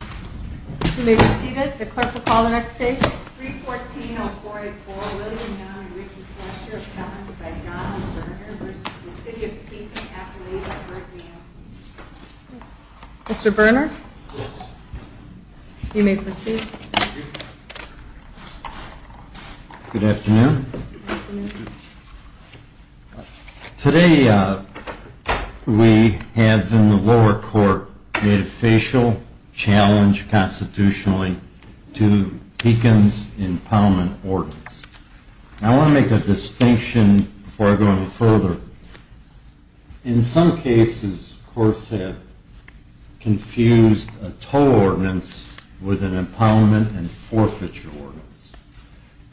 You may proceed. The clerk will call the next case. 314-0484 William Downey Ritchie-Slusher Appendix by Donna Burner v. City of Pekin Mr. Burner? Yes. You may proceed. Good afternoon. Good afternoon. Today we have in the lower court made a facial challenge constitutionally to Pekin's impoundment ordinance. I want to make a distinction before I go any further. In some cases courts have confused a toll ordinance with an impoundment and forfeiture ordinance.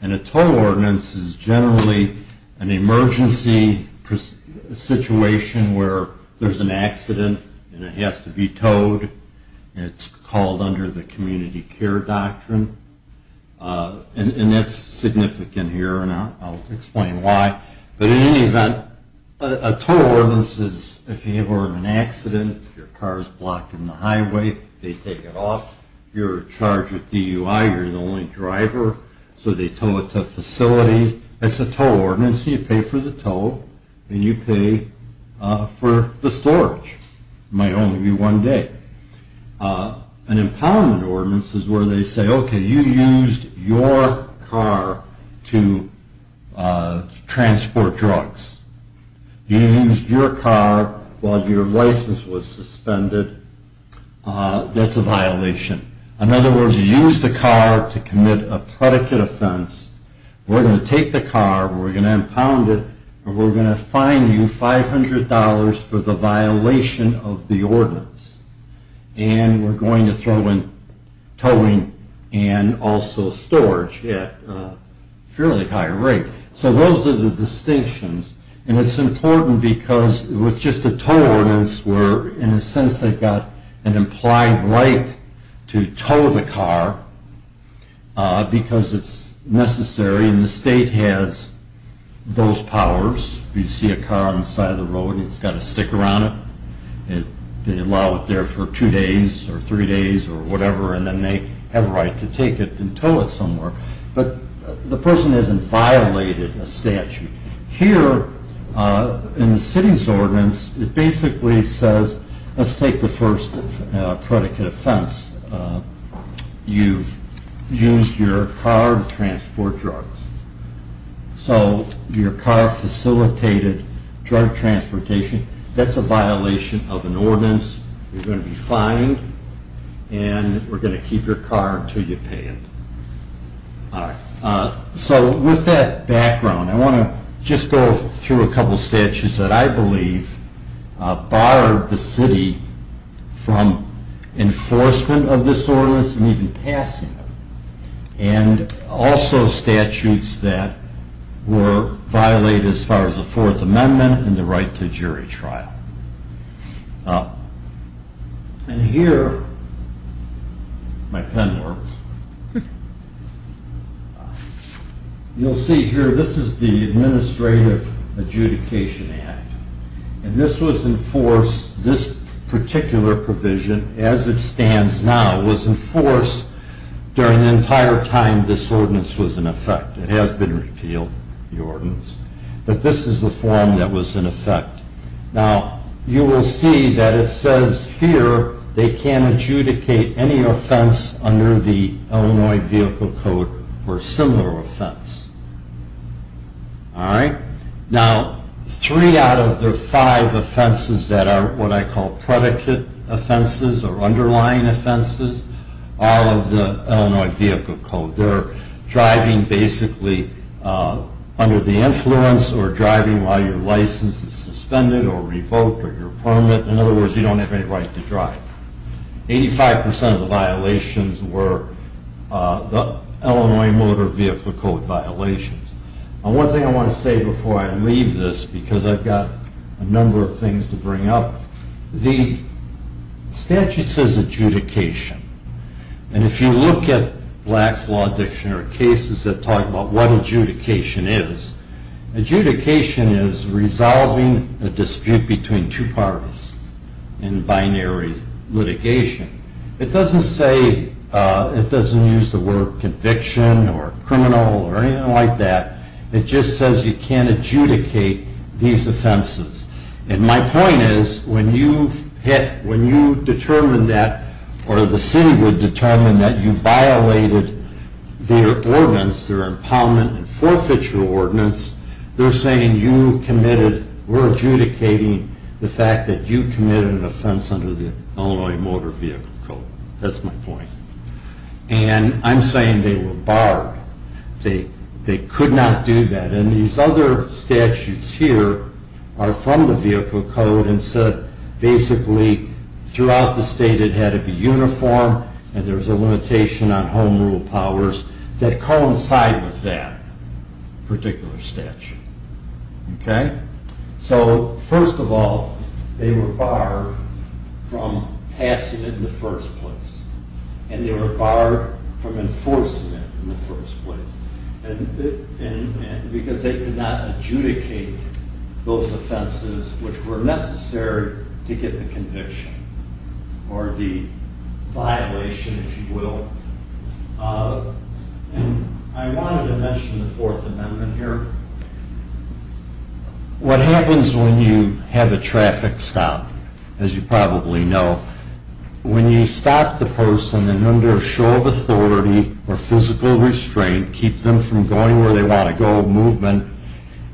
And a toll ordinance is generally an emergency situation where there's an accident and it has to be towed. It's called under the community care doctrine. And that's significant here and I'll explain why. But in any event, a toll ordinance is if you have an accident, your car is blocked in the highway, they take it off, you're charged with DUI, you're the only driver, so they tow it to a facility, that's a toll ordinance and you pay for the toll and you pay for the storage. It might only be one day. An impoundment ordinance is where they say, okay, you used your car to transport drugs. You used your car while your license was suspended. That's a violation. In other words, you used the car to commit a predicate offense. We're going to take the car, we're going to impound it, and we're going to fine you $500 for the violation of the ordinance. And we're going to throw in towing and also storage at a fairly high rate. So those are the distinctions. And it's important because with just a toll ordinance, we're in a sense they've got an implied right to tow the car because it's necessary and the state has those powers. You see a car on the side of the road and it's got a sticker on it. They allow it there for two days or three days or whatever and then they have a right to take it and tow it somewhere. But the person hasn't violated a statute. Here in the city's ordinance, it basically says let's take the first predicate offense. You've used your car to transport drugs. So your car facilitated drug transportation. That's a violation of an ordinance. You're going to be fined and we're going to keep your car until you pay it. So with that background, I want to just go through a couple of statutes that I believe barred the city from enforcement of this ordinance and even passing it. And also statutes that were violated as far as the Fourth Amendment and the right to jury trial. And here, my pen works. You'll see here, this is the Administrative Adjudication Act. And this was enforced, this particular provision, as it stands now, was enforced during the entire time this ordinance was in effect. It has been repealed, the ordinance. But this is the form that was in effect. Now you will see that it says here they can't adjudicate any offense under the Illinois Vehicle Code for a similar offense. All right. Now, three out of the five offenses that are what I call predicate offenses or underlying offenses, all of the Illinois Vehicle Code, they're driving basically under the influence or driving while your license is suspended or revoked or your permit. In other words, you don't have any right to drive. Eighty-five percent of the violations were the Illinois Motor Vehicle Code violations. One thing I want to say before I leave this, because I've got a number of things to bring up, the statute says adjudication. And if you look at Black's Law Dictionary cases that talk about what adjudication is, adjudication is resolving a dispute between two parties in binary litigation. It doesn't say, it doesn't use the word conviction or criminal or anything like that. It just says you can't adjudicate these offenses. And my point is when you hit, when you determine that, or the city would determine that you violated their ordinance, their impoundment and forfeiture ordinance, they're saying you committed, we're adjudicating the fact that you committed an offense under the Illinois Motor Vehicle Code. That's my point. And I'm saying they were barred. They could not do that. And these other statutes here are from the Vehicle Code and said basically throughout the state it had to be uniform and there was a limitation on home rule powers that coincide with that particular statute. Okay? So, first of all, they were barred from passing it in the first place. And they were barred from enforcing it in the first place. Because they could not adjudicate those offenses which were necessary to get the conviction or the violation, if you will. I wanted to mention the Fourth Amendment here. What happens when you have a traffic stop, as you probably know, when you stop the person and under a show of authority or physical restraint keep them from going where they want to go, movement,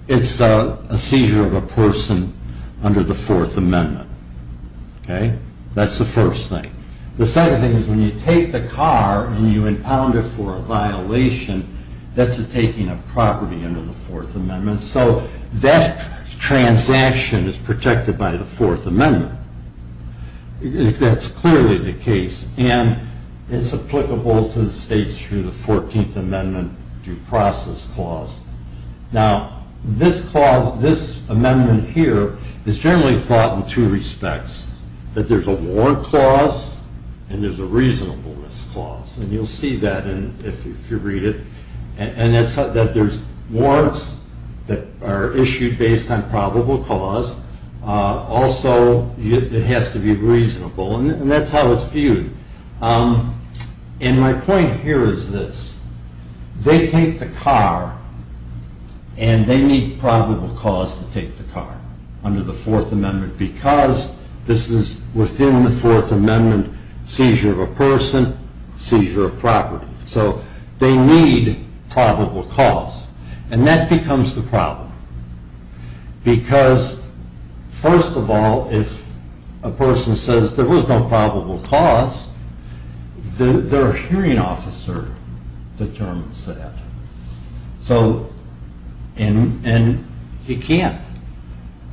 it's a seizure of a person under the Fourth Amendment. Okay? That's the first thing. The second thing is when you take the car and you impound it for a violation, that's a taking of property under the Fourth Amendment. And so that transaction is protected by the Fourth Amendment. That's clearly the case. And it's applicable to the states through the 14th Amendment Due Process Clause. Now, this clause, this amendment here, is generally thought in two respects. That there's a Warrant Clause and there's a Reasonableness Clause. And you'll see that if you read it. And that there's warrants that are issued based on probable cause. Also, it has to be reasonable. And that's how it's viewed. And my point here is this. They take the car and they need probable cause to take the car under the Fourth Amendment because this is within the Fourth Amendment seizure of a person, seizure of property. So they need probable cause. And that becomes the problem. Because, first of all, if a person says there was no probable cause, their hearing officer determines that. And he can't.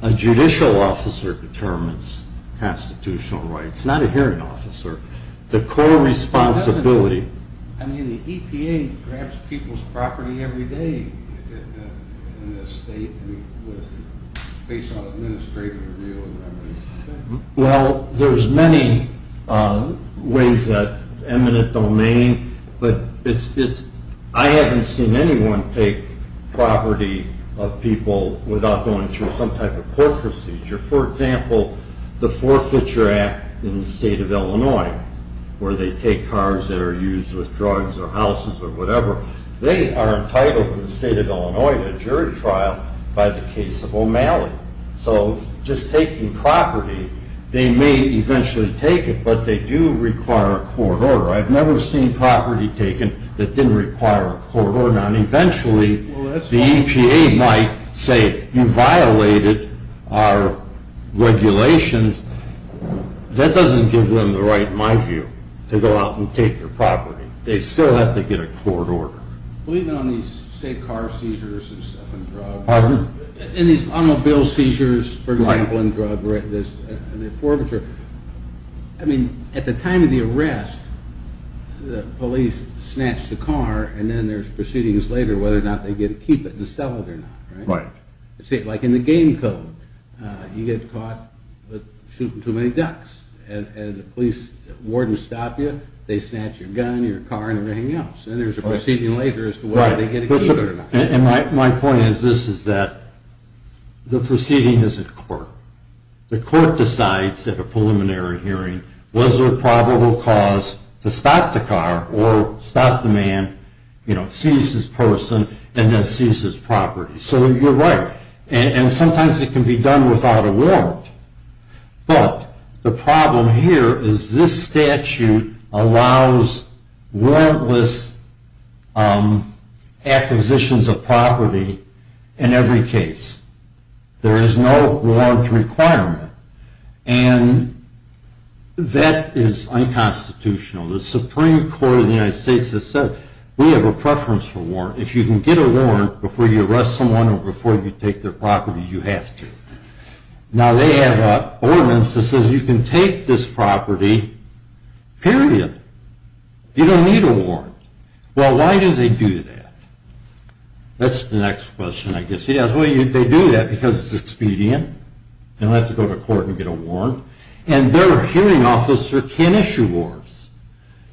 A judicial officer determines constitutional rights. Not a hearing officer. The core responsibility. I mean, the EPA grabs people's property every day in this state based on administrative review and everything. Well, there's many ways that eminent domain. But I haven't seen anyone take property of people without going through some type of court procedure. For example, the Forfeiture Act in the state of Illinois, where they take cars that are used with drugs or houses or whatever, they are entitled in the state of Illinois to a jury trial by the case of O'Malley. So just taking property, they may eventually take it, but they do require a court order. I've never seen property taken that didn't require a court order. Eventually, the EPA might say, you violated our regulations. That doesn't give them the right, in my view, to go out and take your property. They still have to get a court order. Well, even on these, say, car seizures and stuff and drugs. Pardon? In these automobile seizures, for example, and drugs, and the forfeiture. I mean, at the time of the arrest, the police snatched the car and then there's proceedings later whether or not they get to keep it and sell it or not. Right. Like in the game code, you get caught shooting too many ducks and the police warden stops you, they snatch your gun, your car, and everything else. And there's a proceeding later as to whether they get to keep it or not. And my point is this, is that the proceeding is at court. The court decides at a preliminary hearing, was there a probable cause to stop the car or stop the man, seize his person, and then seize his property. So you're right. And sometimes it can be done without a warrant. But the problem here is this statute allows warrantless acquisitions of property in every case. There is no warrant requirement. And that is unconstitutional. The Supreme Court of the United States has said we have a preference for warrant. If you can get a warrant before you arrest someone or before you take their property, you have to. Now, they have an ordinance that says you can take this property, period. You don't need a warrant. Well, why do they do that? That's the next question, I guess. Well, they do that because it's expedient. No one has to go to court and get a warrant. And their hearing officer can issue warrants.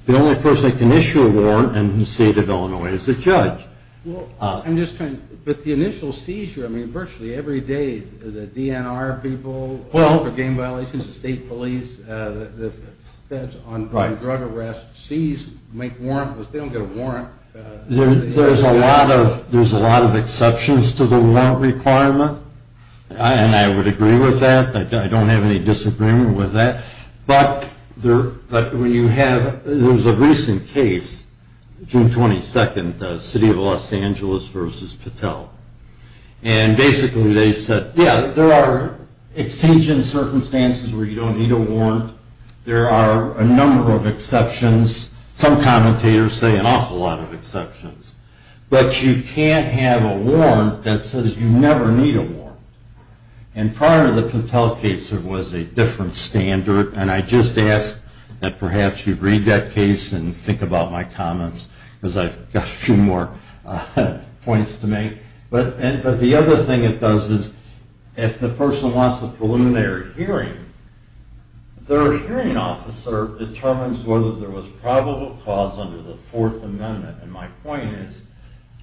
The only person that can issue a warrant in the state of Illinois is the judge. I'm just trying to – but the initial seizure, I mean, virtually every day, the DNR people for gang violations, the state police, the feds on drug arrests, seize, make warrantless, they don't get a warrant. There's a lot of exceptions to the warrant requirement. And I would agree with that. I don't have any disagreement with that. But when you have – there was a recent case, June 22nd, the city of Los Angeles versus Patel. And basically they said, yeah, there are exigent circumstances where you don't need a warrant. There are a number of exceptions. Some commentators say an awful lot of exceptions. But you can't have a warrant that says you never need a warrant. And prior to the Patel case, there was a different standard. And I just ask that perhaps you read that case and think about my comments, because I've got a few more points to make. But the other thing it does is if the person wants a preliminary hearing, their hearing officer determines whether there was probable cause under the Fourth Amendment. And my point is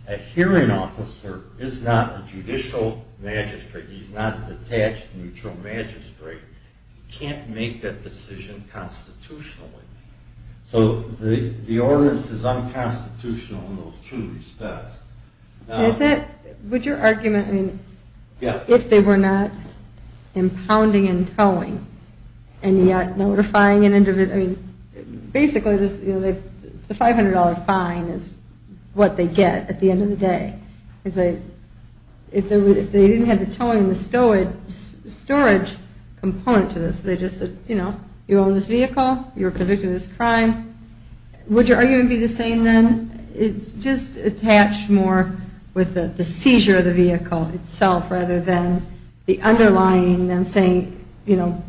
a hearing officer is not a judicial magistrate. He's not a detached neutral magistrate. He can't make that decision constitutionally. So the ordinance is unconstitutional in those two respects. Is it – would your argument – I mean, if they were not impounding and towing and notifying an individual – I mean, basically the $500 fine is what they get at the end of the day. If they didn't have the towing and the storage component to this, they just said, you know, you own this vehicle. You were convicted of this crime. Would your argument be the same then? It's just attached more with the seizure of the vehicle itself rather than the underlying them saying, you know,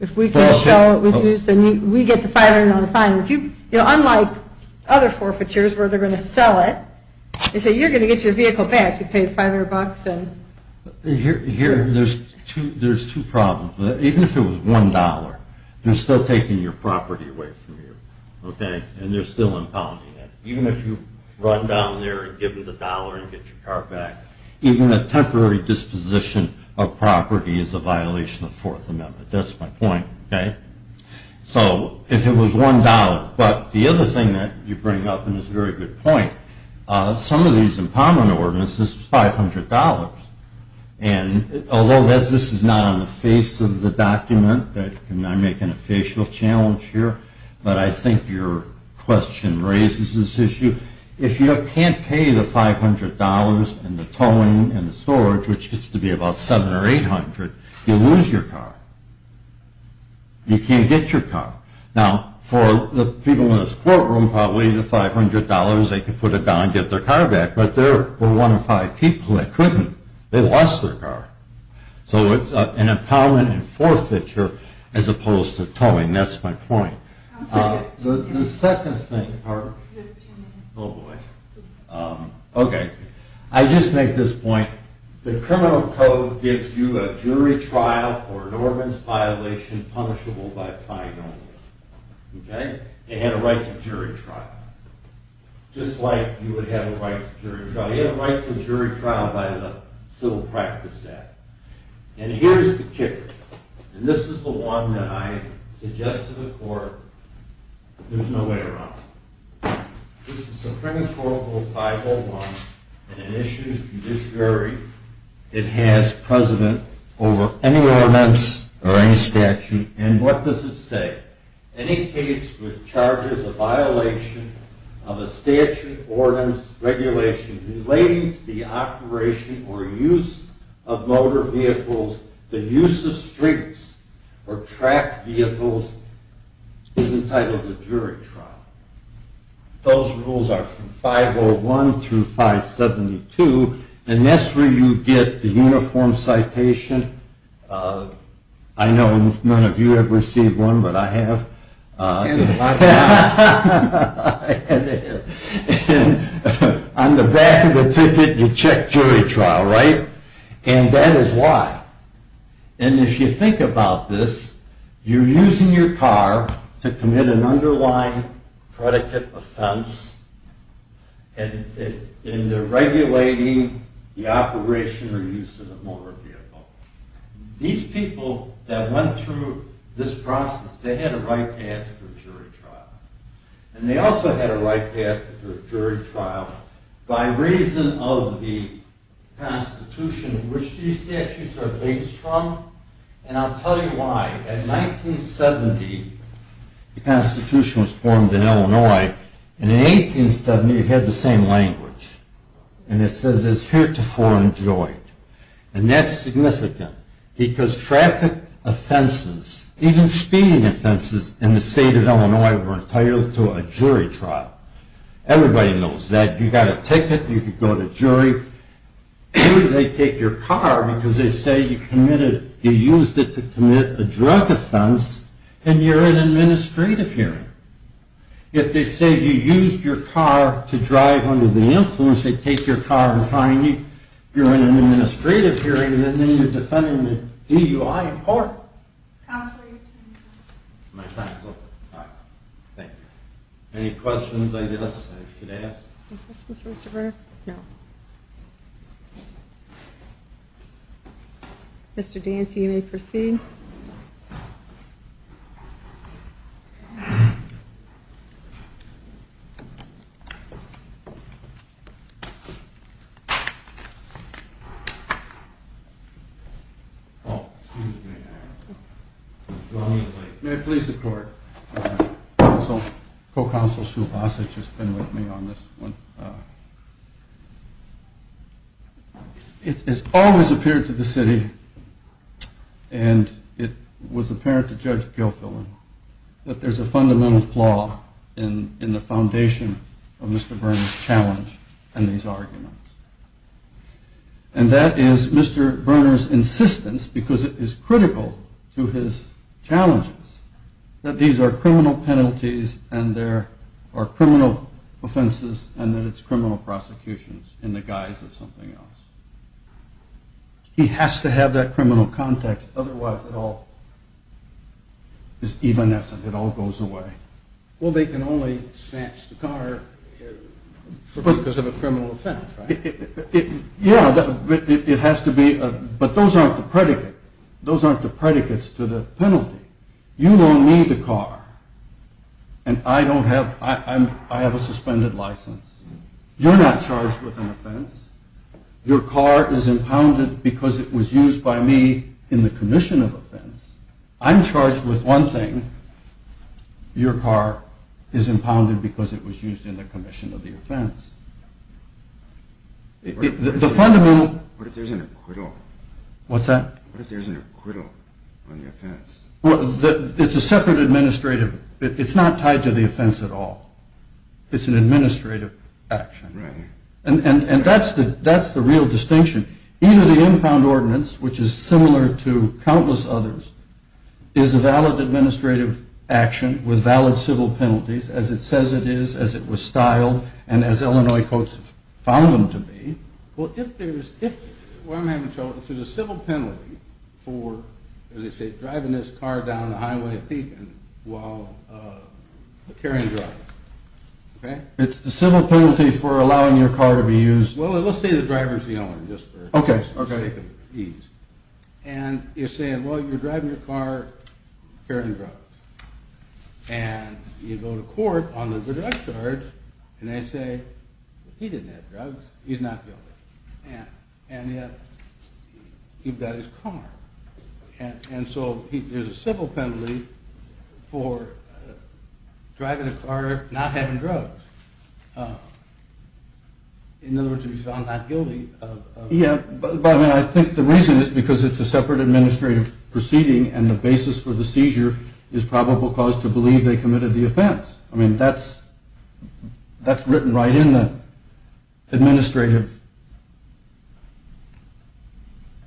if we can show it was used, then we get the $500 fine. If you – you know, unlike other forfeitures where they're going to sell it, they say you're going to get your vehicle back. You paid $500. Here there's two problems. Even if it was $1, they're still taking your property away from you, okay? And they're still impounding it. Even if you run down there and give them the dollar and get your car back, even a temporary disposition of property is a violation of the Fourth Amendment. That's my point, okay? So if it was $1. But the other thing that you bring up, and it's a very good point, some of these impoundment ordinances, $500. And although this is not on the face of the document, and I'm making a facial challenge here, but I think your question raises this issue. If you can't pay the $500 and the towing and the storage, which gets to be about $700 or $800, you lose your car. You can't get your car. Now, for the people in this courtroom, probably the $500, they could put it down and get their car back. But there were one or five people that couldn't. They lost their car. So it's an impoundment and forfeiture as opposed to towing. That's my point. The second thing. Pardon? Oh, boy. Okay. I just make this point. The criminal code gives you a jury trial for an ordinance violation punishable by a prior norm. Okay? It had a right to jury trial. Just like you would have a right to jury trial. And here's the kicker. And this is the one that I suggest to the court. There's no way around it. This is Supreme Court Rule 501, and it issues judiciary. It has precedent over any ordinance or any statute. And what does it say? Any case with charges of violation of a statute, ordinance, regulation relating to the operation or use of motor vehicles, the use of streets or track vehicles is entitled to jury trial. Those rules are from 501 through 572. And that's where you get the uniform citation. I know none of you have received one, but I have. And on the back of the ticket, you check jury trial, right? And that is why. And if you think about this, you're using your car to commit an underlying predicate offense in the regulating the operation or use of a motor vehicle. These people that went through this process, they had a right to ask for a jury trial. And they also had a right to ask for a jury trial by reason of the Constitution, which these statutes are based from. And I'll tell you why. In 1970, the Constitution was formed in Illinois. And in 1870, it had the same language. And it says it's heretofore enjoyed. And that's significant because traffic offenses, even speeding offenses, in the state of Illinois were entitled to a jury trial. Everybody knows that. You got a ticket. You could go to jury. They take your car because they say you used it to commit a drug offense, and you're in administrative hearing. If they say you used your car to drive under the influence, they take your car and fine you. You're in an administrative hearing, and then you're defending the DUI in court. Counselor, your time is up. My time is up? All right. Thank you. Any questions, I guess, I should ask? Any questions for Mr. Burr? No. Mr. Dancy, you may proceed. Oh, excuse me. May I please have the floor? Counsel, Co-Counsel Sue Basich has been with me on this one. It has always appeared to the city, and it was apparent to Judge Gilfillan, that there's a fundamental flaw in the foundation of Mr. Burner's challenge and these arguments. And that is Mr. Burner's insistence, because it is critical to his challenges, that these are criminal penalties and there are criminal offenses and that it's criminal prosecutions in the guise of something else. He has to have that criminal context, otherwise it all is evanescent. It all goes away. Well, they can only snatch the car because of a criminal offense, right? Yeah, it has to be. But those aren't the predicates. You don't need the car, and I have a suspended license. You're not charged with an offense. Your car is impounded because it was used by me in the commission of offense. I'm charged with one thing. Your car is impounded because it was used in the commission of the offense. What if there's an acquittal? What's that? What if there's an acquittal on the offense? Well, it's a separate administrative. It's not tied to the offense at all. It's an administrative action. And that's the real distinction. Either the impound ordinance, which is similar to countless others, is a valid administrative action with valid civil penalties, as it says it is, as it was styled, and as Illinois courts have found them to be. Well, if there's a civil penalty for, as they say, driving this car down the highway of Pekin while carrying drugs, okay? It's the civil penalty for allowing your car to be used. Well, let's say the driver's the only one, just for sake of ease. And you're saying, well, you're driving your car carrying drugs. And you go to court on the direct charge, and they say, he didn't have drugs. He's not guilty. And yet he's got his car. And so there's a civil penalty for driving a car, not having drugs. In other words, he's found not guilty. Yeah, but, I mean, I think the reason is because it's a separate administrative proceeding, and the basis for the seizure is probable cause to believe they committed the offense. I mean, that's written right in the administrative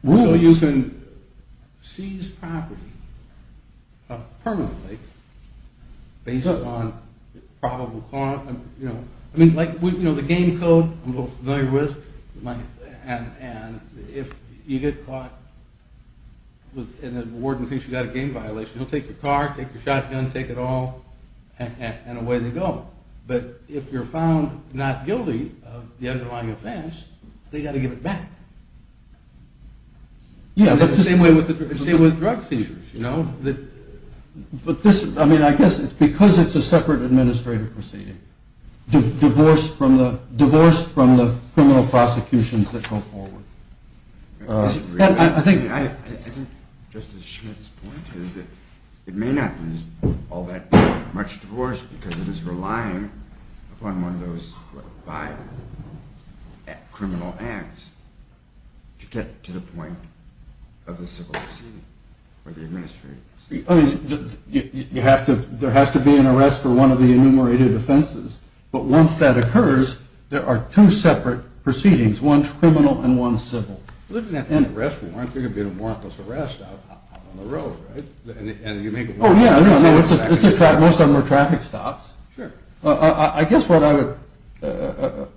rule. So you can seize property permanently based on probable cause. I mean, like, you know, the game code I'm a little familiar with, and if you get caught in the warden thinks you've got a game violation, he'll take your car, take your shotgun, take it all, and away they go. But if you're found not guilty of the underlying offense, they've got to give it back. Yeah, but the same way with drug seizures, you know. But this, I mean, I guess it's because it's a separate administrative proceeding, divorced from the criminal prosecutions that go forward. I think Justice Schmidt's point is that it may not be all that much divorce because it is relying upon one of those five criminal acts to get to the point of the civil proceeding or the administrative proceeding. I mean, there has to be an arrest for one of the enumerated offenses. But once that occurs, there are two separate proceedings, one criminal and one civil. Well, isn't that an arrest warrant? There could be a warrantless arrest out on the road, right? Oh, yeah. Most of them are traffic stops. Sure. I guess what I would,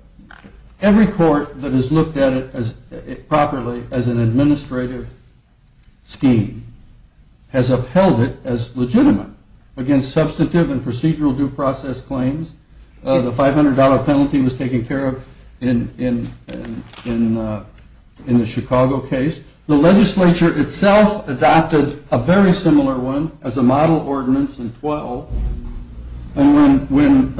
every court that has looked at it properly as an administrative scheme has upheld it as legitimate against substantive and procedural due process claims. The $500 penalty was taken care of in the Chicago case. The legislature itself adopted a very similar one as a model ordinance in 12. And when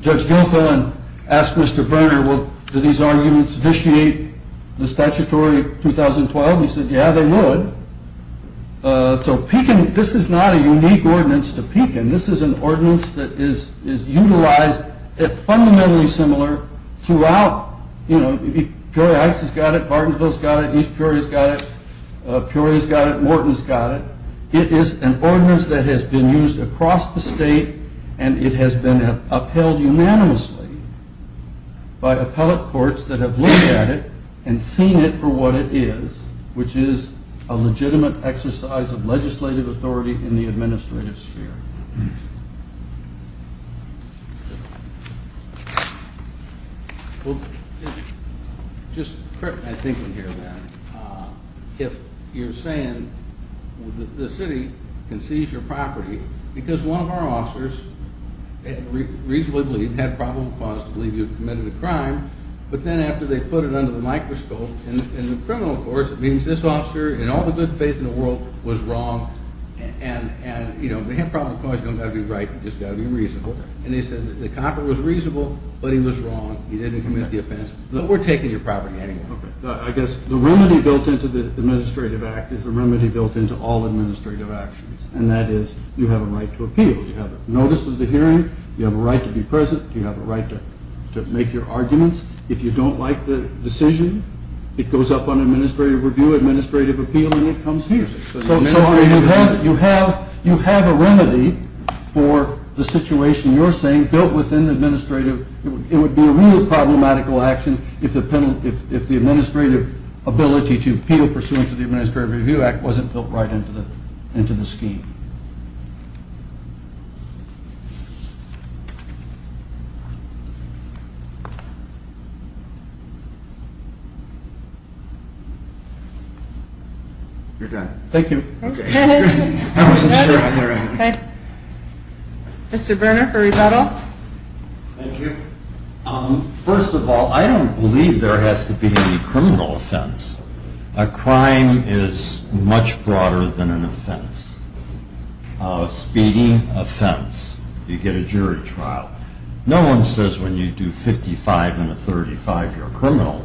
Judge Guilfoyle asked Mr. Brenner, well, do these arguments vitiate the statutory 2012, he said, yeah, they would. So this is not a unique ordinance to Pekin. This is an ordinance that is utilized fundamentally similar throughout. Peoria Heights has got it. Bartonsville's got it. East Peoria's got it. Peoria's got it. Morton's got it. It is an ordinance that has been used across the state, and it has been upheld unanimously by appellate courts that have looked at it and seen it for what it is, which is a legitimate exercise of legislative authority in the administrative sphere. Just a quick thing here, if you're saying the city can seize your property because one of our officers reasonably had probable cause to believe you committed a crime, but then after they put it under the microscope in the criminal courts, it means this officer in all the good faith in the world was wrong, and you know, they have probable cause, you don't have to be right, you just got to be reasonable. And they said the copper was reasonable, but he was wrong. He didn't commit the offense. We're taking your property anyway. I guess the remedy built into the Administrative Act is the remedy built into all administrative actions, and that is you have a right to appeal. You have a notice of the hearing. You have a right to be present. You have a right to make your arguments. If you don't like the decision, it goes up on administrative review, administrative appeal, and it comes here. So you have a remedy for the situation you're saying built within administrative. It would be a real problematical action if the administrative ability to appeal pursuant to the Administrative Review Act wasn't built right into the scheme. You're done. Thank you. Okay. I wasn't sure if I got it right. Okay. Mr. Berner for rebuttal. Thank you. First of all, I don't believe there has to be any criminal offense. A crime is much broader than an offense. A speeding offense, you get a jury trial. No one says when you do 55 in a 35 you're a criminal,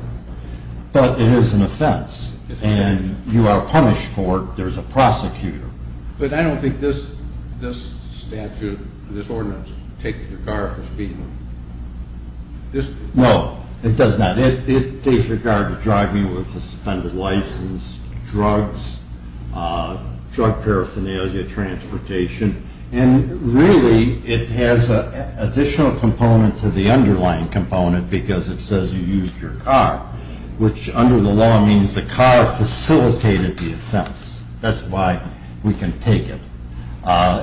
but it is an offense, and you are punished for it. There's a prosecutor. But I don't think this statute, this ordinance, takes your car for speeding. No, it does not. It takes your car to drive you with a suspended license, drugs, drug paraphernalia, transportation, and really it has an additional component to the underlying component because it says you used your car, which under the law means the car facilitated the offense. That's why we can take it.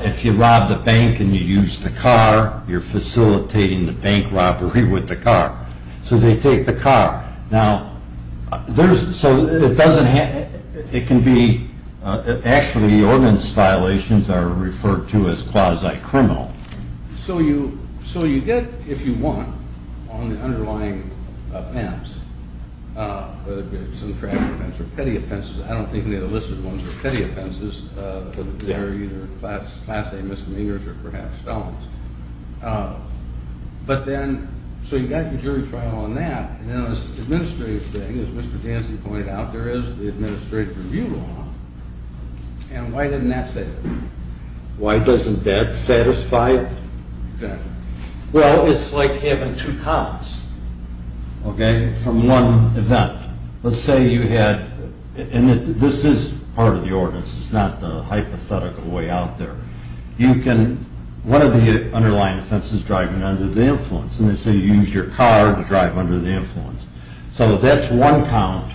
If you rob the bank and you use the car, you're facilitating the bank robbery with the car. So they take the car. Actually, the ordinance violations are referred to as quasi-criminal. So you get, if you want, on the underlying offense, whether it be some traffic offense or petty offenses, I don't think any of the listed ones are petty offenses. They're either class A misdemeanors or perhaps felons. So you've got your jury trial on that. Now this administrative thing, as Mr. Dancy pointed out, there is the administrative review law. And why doesn't that say that? Why doesn't that satisfy that? Well, it's like having two cops, okay, from one event. Let's say you had, and this is part of the ordinance. It's not the hypothetical way out there. You can, one of the underlying offenses is driving under the influence. And they say you use your car to drive under the influence. So that's one count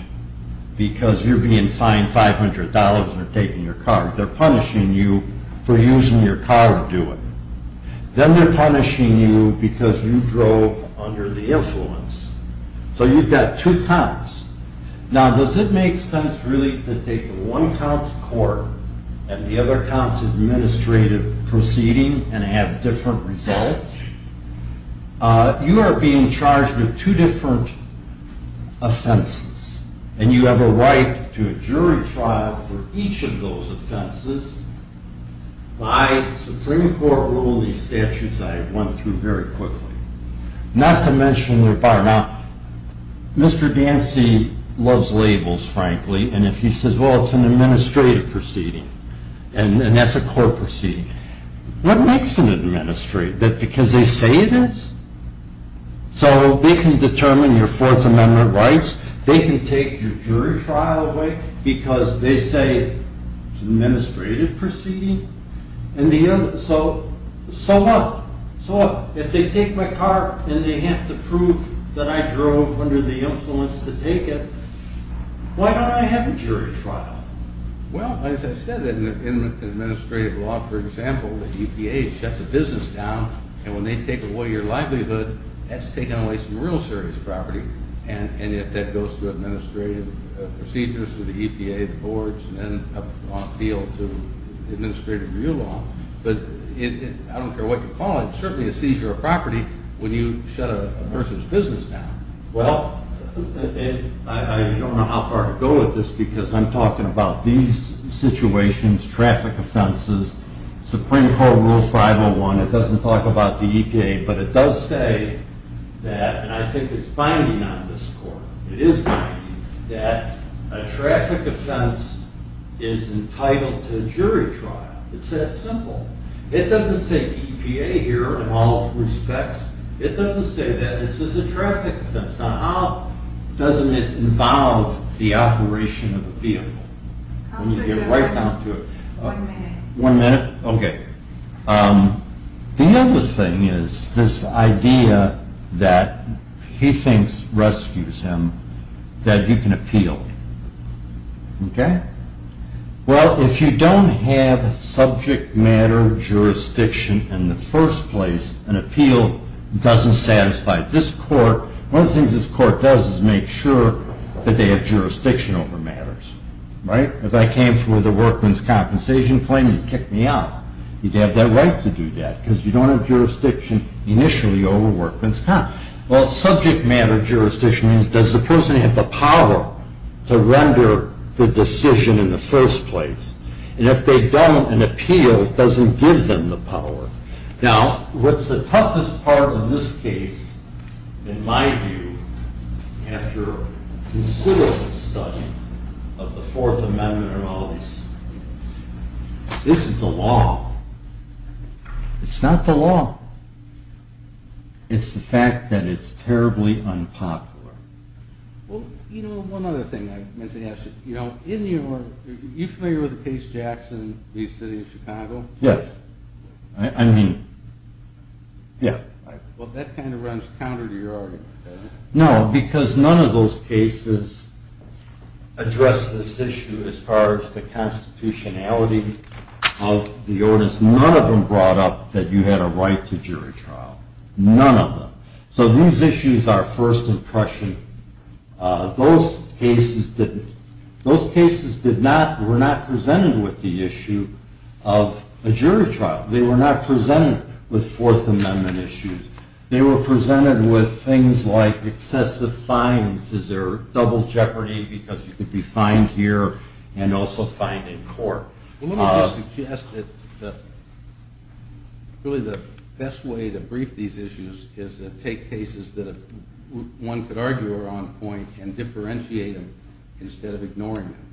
because you're being fined $500 for taking your car. They're punishing you for using your car to do it. Then they're punishing you because you drove under the influence. So you've got two counts. Now does it make sense really to take one count to court and the other count to administrative proceeding and have different results? You are being charged with two different offenses. And you have a right to a jury trial for each of those offenses. By Supreme Court rule, these statutes I went through very quickly. Not to mention they're bar not. Mr. Dancy loves labels, frankly. And if he says, well, it's an administrative proceeding, and that's a court proceeding. What makes an administrative? That because they say it is? So they can determine your Fourth Amendment rights. They can take your jury trial away because they say it's an administrative proceeding. So what? If they take my car and they have to prove that I drove under the influence to take it, why don't I have a jury trial? Well, as I said, in administrative law, for example, the EPA shuts a business down, and when they take away your livelihood, that's taking away some real serious property. And yet that goes through administrative procedures through the EPA, the boards, and then up the field to administrative review law. But I don't care what you call it. It's certainly a seizure of property when you shut a person's business down. Well, I don't know how far to go with this because I'm talking about these situations, traffic offenses, Supreme Court Rule 501. It doesn't talk about the EPA, but it does say that, and I think it's binding on this court, it is binding, that a traffic offense is entitled to a jury trial. It's that simple. It doesn't say EPA here in all respects. It doesn't say that this is a traffic offense. Now, how doesn't it involve the operation of a vehicle? Let me get right down to it. One minute? Okay. The other thing is this idea that he thinks rescues him, that you can appeal. Okay? Well, if you don't have subject matter jurisdiction in the first place, an appeal doesn't satisfy this court. One of the things this court does is make sure that they have jurisdiction over matters, right? If I came for the workman's compensation claim, you'd kick me out. You'd have that right to do that because you don't have jurisdiction initially over workman's comp. Well, subject matter jurisdiction is, does the person have the power to render the decision in the first place? And if they don't, an appeal doesn't give them the power. Now, what's the toughest part of this case, in my view, after a considerable study of the Fourth Amendment and all these, isn't the law. It's not the law. It's the fact that it's terribly unpopular. Well, you know, one other thing I meant to ask you. You know, in your, are you familiar with the case Jackson v. City of Chicago? Yes. I mean, yeah. Well, that kind of runs counter to your argument, doesn't it? No, because none of those cases address this issue as far as the constitutionality of the ordinance. None of them brought up that you had a right to jury trial. None of them. So these issues are first impression. Those cases did not, were not presented with the issue of a jury trial. They were not presented with Fourth Amendment issues. They were presented with things like excessive fines. Is there double jeopardy because you could be fined here and also fined in court? Well, let me just suggest that really the best way to brief these issues is to take cases that one could argue are on point and differentiate them instead of ignoring them.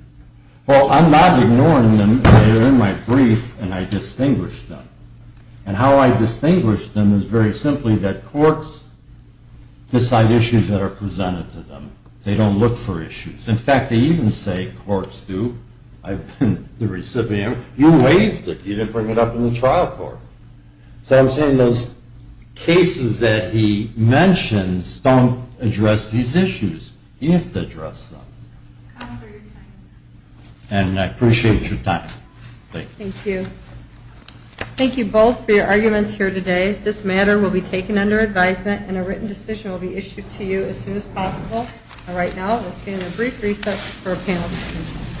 Well, I'm not ignoring them. They're in my brief, and I distinguish them. And how I distinguish them is very simply that courts decide issues that are presented to them. They don't look for issues. In fact, they even say courts do. I've been the recipient. You waived it. You didn't bring it up in the trial court. So I'm saying those cases that he mentions don't address these issues. You have to address them. And I appreciate your time. Thank you. Thank you both for your arguments here today. This matter will be taken under advisement, and a written decision will be issued to you as soon as possible. All right, now we'll stand on brief recess for a panel discussion.